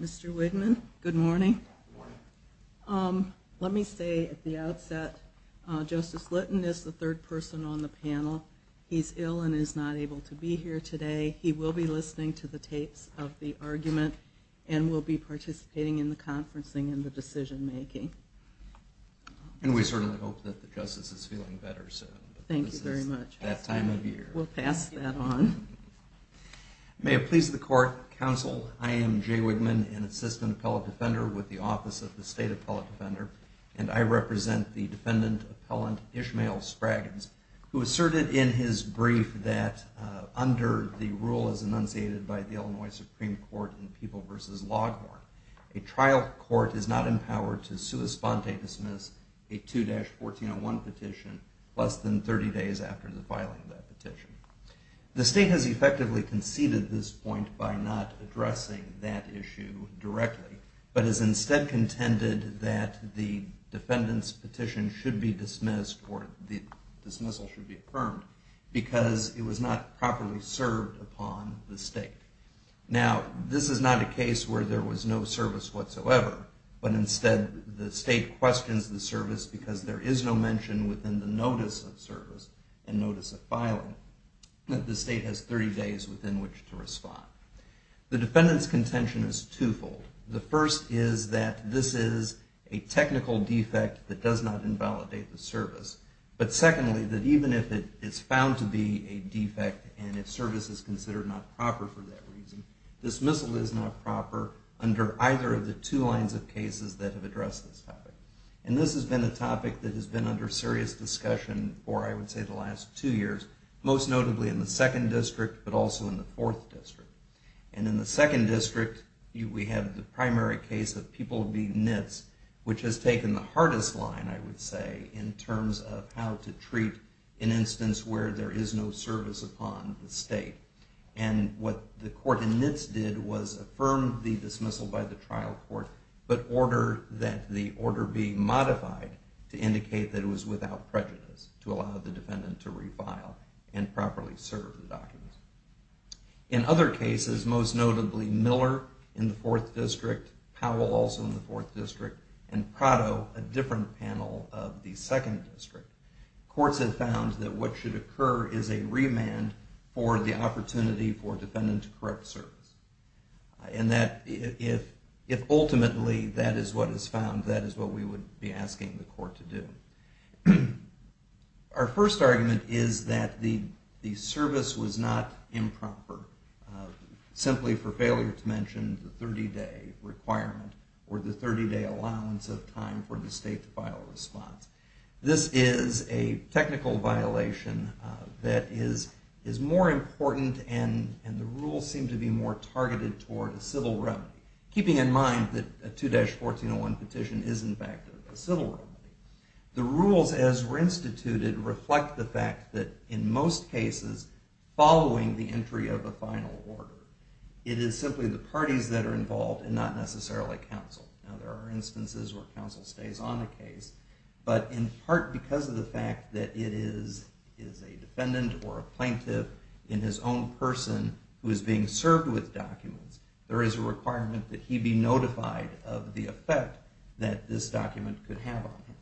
Mr. Wigman, good morning. Let me say at the outset, Justice Litton is the third person on the panel. He's ill and is not able to be here today. He will be listening to the tapes of the argument and will be participating in the conference as well. And we certainly hope that the Justice is feeling better soon. Thank you very much. We'll pass that on. May it please the court, counsel, I am Jay Wigman, an assistant appellate defender with the Office of the State Appellate Defender, and I represent the defendant appellant Ishmael Spraggins, who asserted in his brief that under the rule as enunciated by the Illinois Supreme Court in People v. Loghorn, a trial court is not empowered to sui sponte dismiss a 2-1401 petition less than 30 days after the filing of that petition. The state has effectively conceded this point by not addressing that issue directly, but has instead contended that the defendant's petition should be dismissed or the dismissal should be affirmed because it was not properly served upon the state. Now, this is not a case where there was no service whatsoever, but instead the state questions the service because there is no mention within the notice of service and notice of filing. The state has 30 days within which to respond. The defendant's contention is twofold. The first is that this is a technical defect that does not invalidate the service. But secondly, that even if it is found to be a defect and if service is considered not proper for that reason, dismissal is not proper under either of the two lines of cases that have addressed this topic. And this has been a topic that has been under serious discussion for, I would say, the last two years, most notably in the second district, but also in the fourth district. And in the second district, we have the primary case of People v. Nitz, which has taken the hardest line, I would say, in terms of how to treat an instance where there is no service upon the state. And what the court in Nitz did was affirm the dismissal by the trial court, but order that the order be modified to indicate that it was without prejudice to allow the defendant to refile and properly serve the documents. In other cases, most notably Miller in the fourth district, Powell also in the fourth district, and Prado, a different panel of the second district, courts have found that what should occur is a remand for the opportunity for a defendant to correct service. And that if ultimately that is what is found, that is what we would be asking the court to do. Our first argument is that the service was not improper, simply for failure to mention the 30-day requirement or the 30-day allowance of time for the state to file a response. This is a technical violation that is more important and the rules seem to be more targeted toward a civil remedy, keeping in mind that a 2-1401 petition is in fact a civil remedy. The rules as were instituted reflect the fact that in most cases, following the entry of the final order, it is simply the parties that are involved and not necessarily counsel. Now there are instances where counsel stays on a case, but in part because of the fact that it is a defendant or a plaintiff in his own person who is being served with documents, there is a requirement that he be notified of the effect that this document could have on him.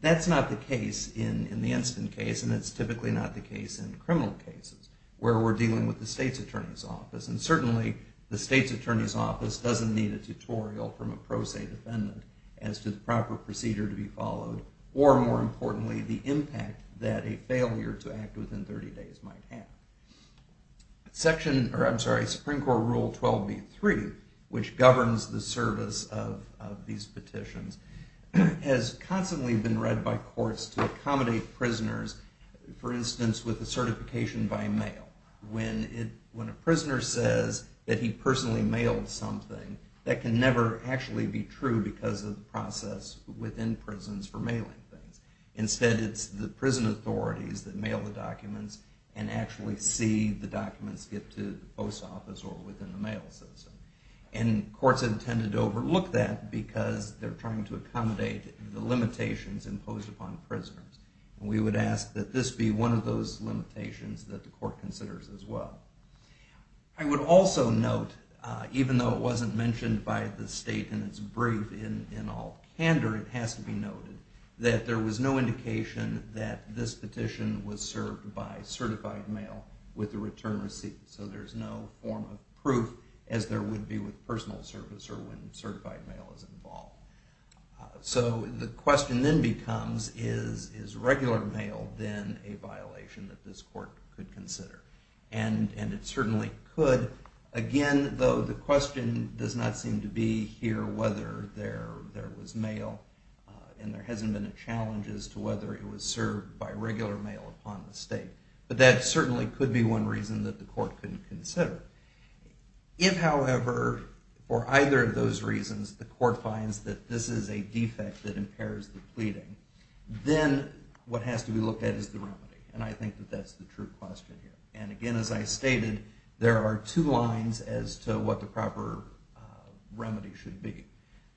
That's not the case in the Enston case and it's typically not the case in criminal cases where we're dealing with the state's attorney's office. And certainly the state's attorney's office doesn't need a tutorial from a pro se defendant as to the proper procedure to be followed or more importantly the impact that a failure to act within 30 days might have. Section, or I'm sorry, Supreme Court Rule 12b-3, which governs the service of these petitions, has constantly been read by courts to accommodate prisoners, for instance, with a certification by mail. When a prisoner says that he personally mailed something, that can never actually be true because of the process within prisons for mailing things. Instead it's the prison authorities that mail the documents and actually see the documents get to the post office or within the mail system. And courts have tended to overlook that because they're trying to accommodate the limitations imposed upon prisoners. We would ask that this be one of those limitations that the court considers as well. I would also note, even though it wasn't mentioned by the state in its brief in all candor, it has to be noted that there was no indication that this petition was served by certified mail with a return receipt. So there's no form of proof as there would be with personal service or when certified mail is involved. So the question then becomes, is regular mail then a violation that this court could consider? And it certainly could. Again, though, the question does not seem to be here whether there was mail and there hasn't been a challenge as to whether it was served by regular mail upon the state. But that certainly could be one reason that the court couldn't consider. If, however, for either of those reasons the court finds that this is a defect that impairs the pleading, then what has to be looked at is the remedy. And I think that that's the true question here. And again, as I stated, there are two lines as to what the proper remedy should be.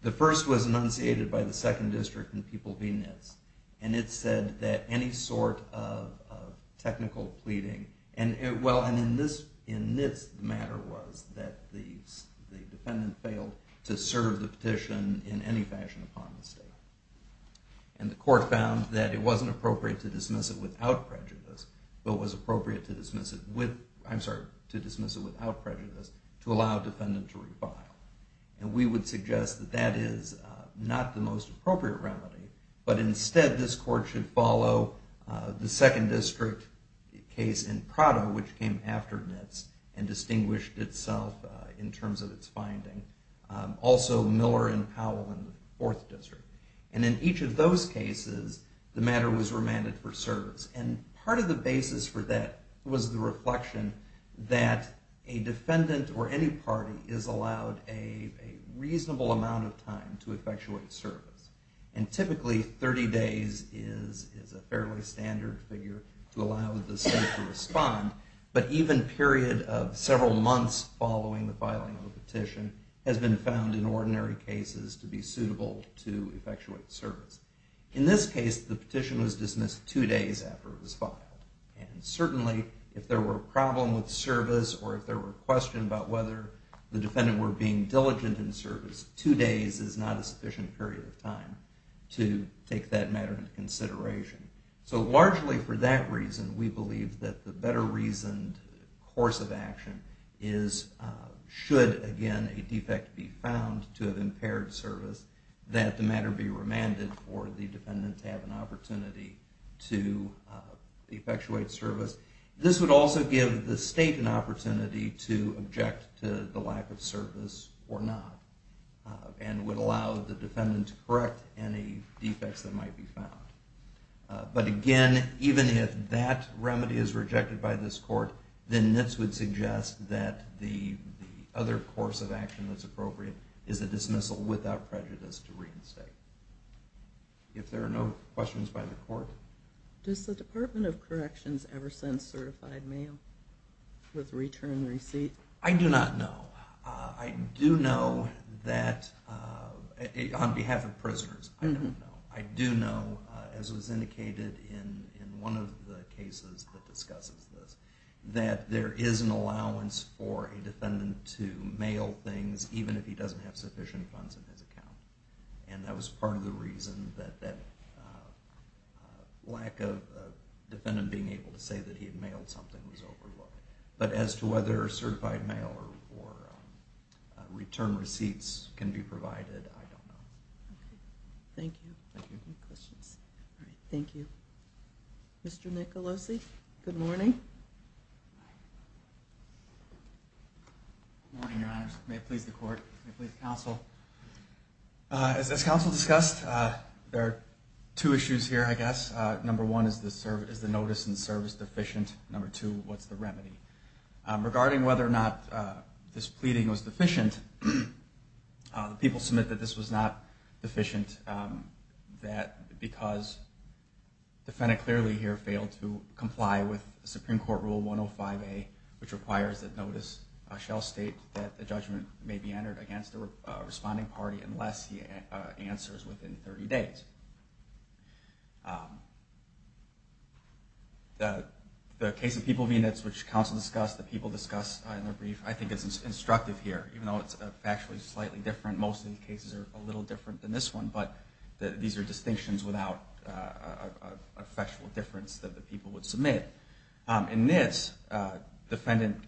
The first was enunciated by the second district in People v. Nitz. And it said that any sort of technical pleading, and in Nitz the matter was that the defendant failed to serve the petition in any fashion upon the state. And the court found that it wasn't appropriate to dismiss it without prejudice, but was appropriate to dismiss it without prejudice to allow the defendant to revile. And we would suggest that that is not the most appropriate remedy, but instead this court should follow the second district case in Prado, which came after Nitz and distinguished itself in terms of its finding. Also Miller and Powell in the fourth district. And in each of those cases the matter was remanded for service. And part of the basis for that was the reflection that a defendant or any party is allowed a reasonable amount of time to effectuate service. And typically 30 days is a fairly standard figure to allow the state to respond. But even a period of several months following the filing of a petition has been found in ordinary cases to be suitable to effectuate service. In this case the petition was dismissed two days after it was filed. And certainly if there were a problem with service or if there were questions about whether the defendant were being diligent in service, two days is not a sufficient period of time to take that matter into consideration. So largely for that reason we believe that the better reasoned course of action is, should again a defect be found to have impaired service, that the matter be remanded for the defendant to have an opportunity to effectuate service. This would also give the state an opportunity to object to the lack of service or not, and would allow the defendant to correct any defects that might be found. But again, even if that remedy is rejected by this court, then this would suggest that the other course of action that's appropriate is a dismissal without prejudice to reinstate. If there are no questions by the court. Does the Department of Corrections ever send certified mail with return receipt? I do not know. I do know that, on behalf of prisoners, I don't know. I do know, as was indicated in one of the cases that discusses this, that there is an allowance for a defendant to mail things even if he doesn't have sufficient funds in his account. And that was part of the reason that that lack of a defendant being able to say that he had mailed something was overlooked. But as to whether certified mail or return receipts can be provided, I don't know. Thank you. Thank you. Any questions? All right, thank you. Mr. Nicolosi, good morning. Good morning, Your Honors. May it please the court, may it please the counsel. As counsel discussed, there are two issues here, I guess. Number one, is the notice and service deficient? Regarding whether or not this pleading was deficient, the people submit that this was not deficient because the defendant clearly here failed to comply with Supreme Court Rule 105A, which requires that notice shall state that the judgment may be entered against the responding party unless he answers within 30 days. The case of people v. Nitts, which counsel discussed, the people discussed in their brief, I think is instructive here. Even though it's factually slightly different, most of these cases are a little different than this one, but these are distinctions without a factual difference that the people would submit. In Nitts, the defendant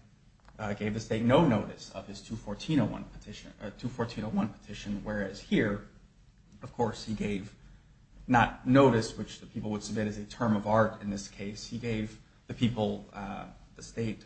gave the state no notice of his 214.01 petition, whereas here, of course, he gave not notice, which the people would submit as a term of art in this case. He gave the people, the state,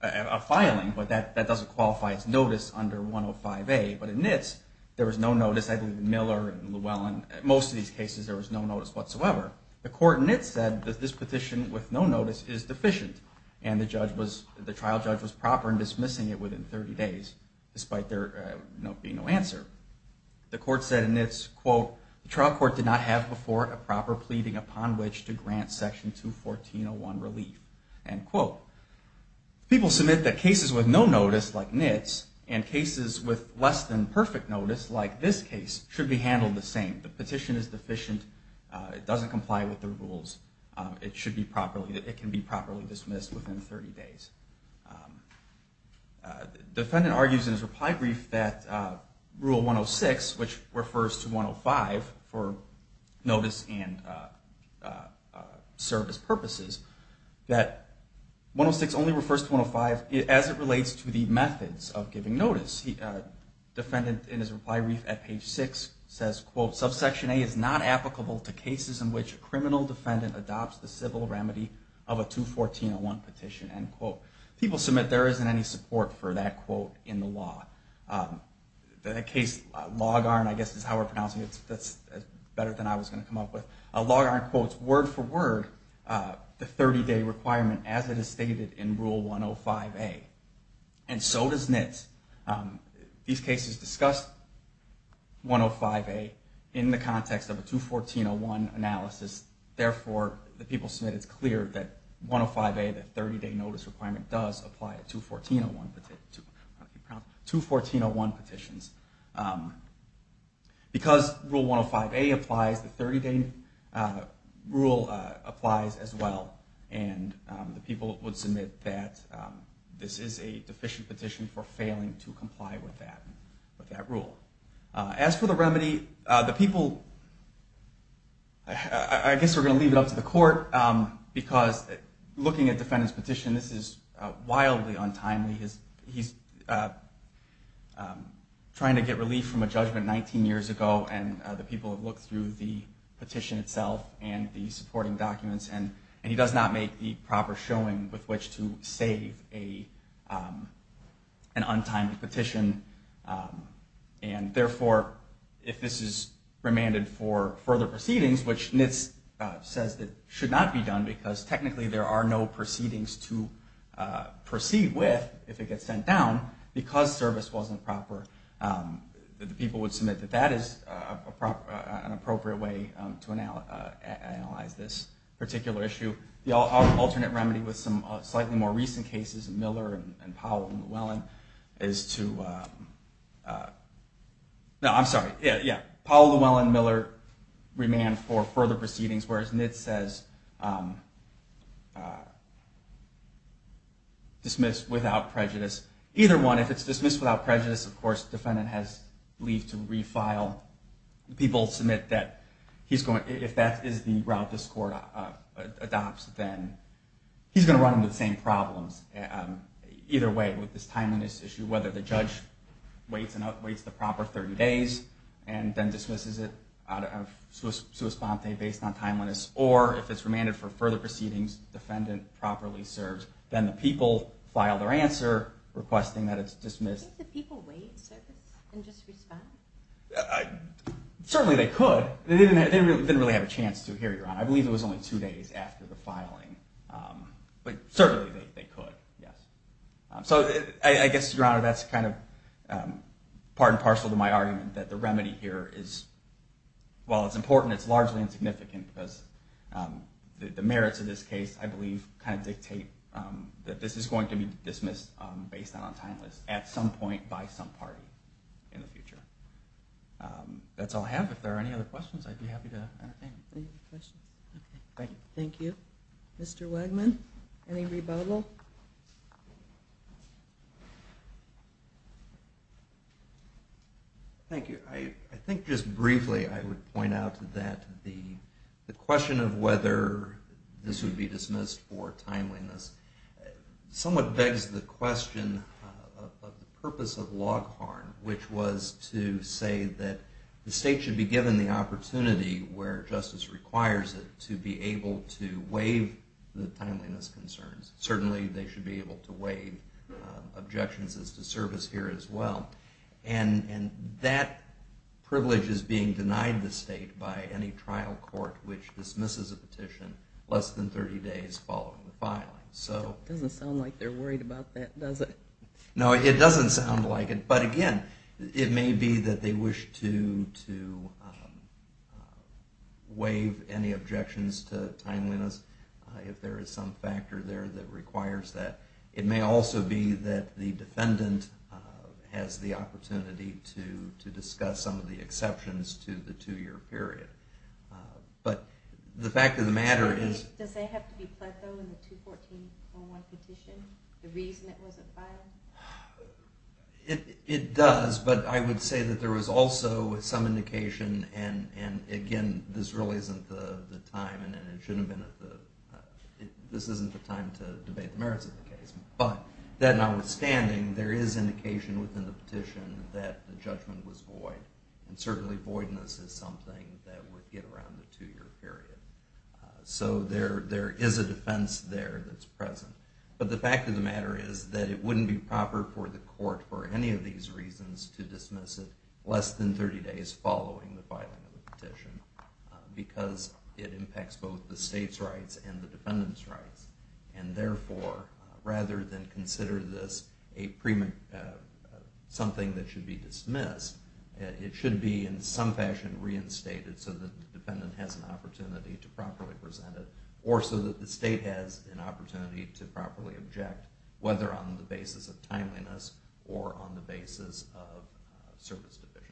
a filing, but that doesn't qualify as notice under 105A. But in Nitts, there was no notice. I think Miller and Llewellyn, most of these cases, there was no notice whatsoever. The court in Nitts said that this petition with no notice is deficient, and the trial judge was proper in dismissing it within 30 days, despite there being no answer. The court said in Nitts, quote, the trial court did not have before a proper pleading upon which to grant section 214.01 relief, end quote. People submit that cases with no notice, like Nitts, and cases with less than perfect notice, like this case, should be handled the same. The petition is deficient. It doesn't comply with the rules. It can be properly dismissed within 30 days. The defendant argues in his reply brief that rule 106, which refers to 105 for notice and service purposes, that 106 only refers to 105 as it relates to the methods of giving notice. The defendant, in his reply brief at page 6, says, quote, subsection A is not applicable to cases in which a criminal defendant adopts the civil remedy of a 214.01 petition, end quote. People submit there isn't any support for that quote in the law. That case, Laugarn, I guess is how we're pronouncing it. That's better than I was going to come up with. Laugarn quotes word for word the 30-day requirement as it is stated in rule 105A. And so does Nitts. These cases discuss 105A in the context of a 214.01 analysis. Therefore, the people submit it's clear that 105A, the 30-day notice requirement, does apply to 214.01 petitions. Because rule 105A applies, the 30-day rule applies as well. And the people would submit that this is a deficient petition for failing to comply with that rule. As for the remedy, the people, I guess we're going to leave it up to the court because looking at the defendant's petition, this is wildly untimely. He's trying to get relief from a judgment 19 years ago, and the people have looked through the petition itself and the supporting documents. And he does not make the proper showing with which to save an untimely petition. And therefore, if this is remanded for further proceedings, which Nitts says should not be done because technically there are no proceedings to proceed with if it gets sent down because service wasn't proper, the people would submit that that is an appropriate way to analyze this particular issue. The alternate remedy with some slightly more recent cases, Miller and Powell and Llewellyn, is to... ...dismiss without prejudice. Either one, if it's dismissed without prejudice, of course, the defendant has relief to refile. The people submit that if that is the route this court adopts, then he's going to run into the same problems. Either way, with this timeliness issue, whether the judge waits the proper 30 days and then dismisses it out of sua sponte based on timeliness, or if it's remanded for further proceedings, defendant properly serves, then the people file their answer requesting that it's dismissed. Do you think the people wait service and just respond? Certainly they could. They didn't really have a chance to here, Your Honor. I believe it was only two days after the filing. But certainly they could, yes. So I guess, Your Honor, that's kind of part and parcel to my argument that the remedy here is... ...the merits of this case, I believe, kind of dictate that this is going to be dismissed based on timeliness at some point by some party in the future. That's all I have. If there are any other questions, I'd be happy to entertain them. Thank you. Mr. Wegman, any rebuttal? Thank you. I think just briefly I would point out that the question of whether this would be dismissed for timeliness somewhat begs the question of the purpose of log harm, which was to say that the state should be given the opportunity where justice requires it to be able to waive the timeliness concerns. Certainly they should be able to waive objections as to service here as well. And that privilege is being denied the state by any trial court which dismisses a petition less than 30 days following the filing. It doesn't sound like they're worried about that, does it? No, it doesn't sound like it. But again, it may be that they wish to waive any objections to timeliness. If there is some factor there that requires that. It may also be that the defendant has the opportunity to discuss some of the exceptions to the two-year period. But the fact of the matter is... Does that have to be pled though in the 214.1 petition? The reason it wasn't filed? It does, but I would say that there was also some indication, and again, this really isn't the time, and it shouldn't have been, this isn't the time to debate the merits of the case. But that notwithstanding, there is indication within the petition that the judgment was void. And certainly voidness is something that would get around the two-year period. So there is a defense there that's present. But the fact of the matter is that it wouldn't be proper for the court for any of these reasons to dismiss it less than 30 days following the filing of the petition. Because it impacts both the state's rights and the defendant's rights. And therefore, rather than consider this something that should be dismissed, it should be in some fashion reinstated so that the defendant has an opportunity to properly present it. Or so that the state has an opportunity to properly object, whether on the basis of timeliness or on the basis of service deficiencies.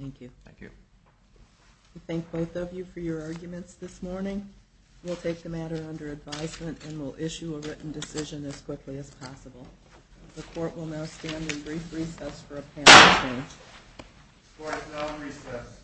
Thank you. Thank you. We thank both of you for your arguments this morning. We'll take the matter under advisement and we'll issue a written decision as quickly as possible. The court will now stand in brief recess for a panel of 10. Court is now in recess.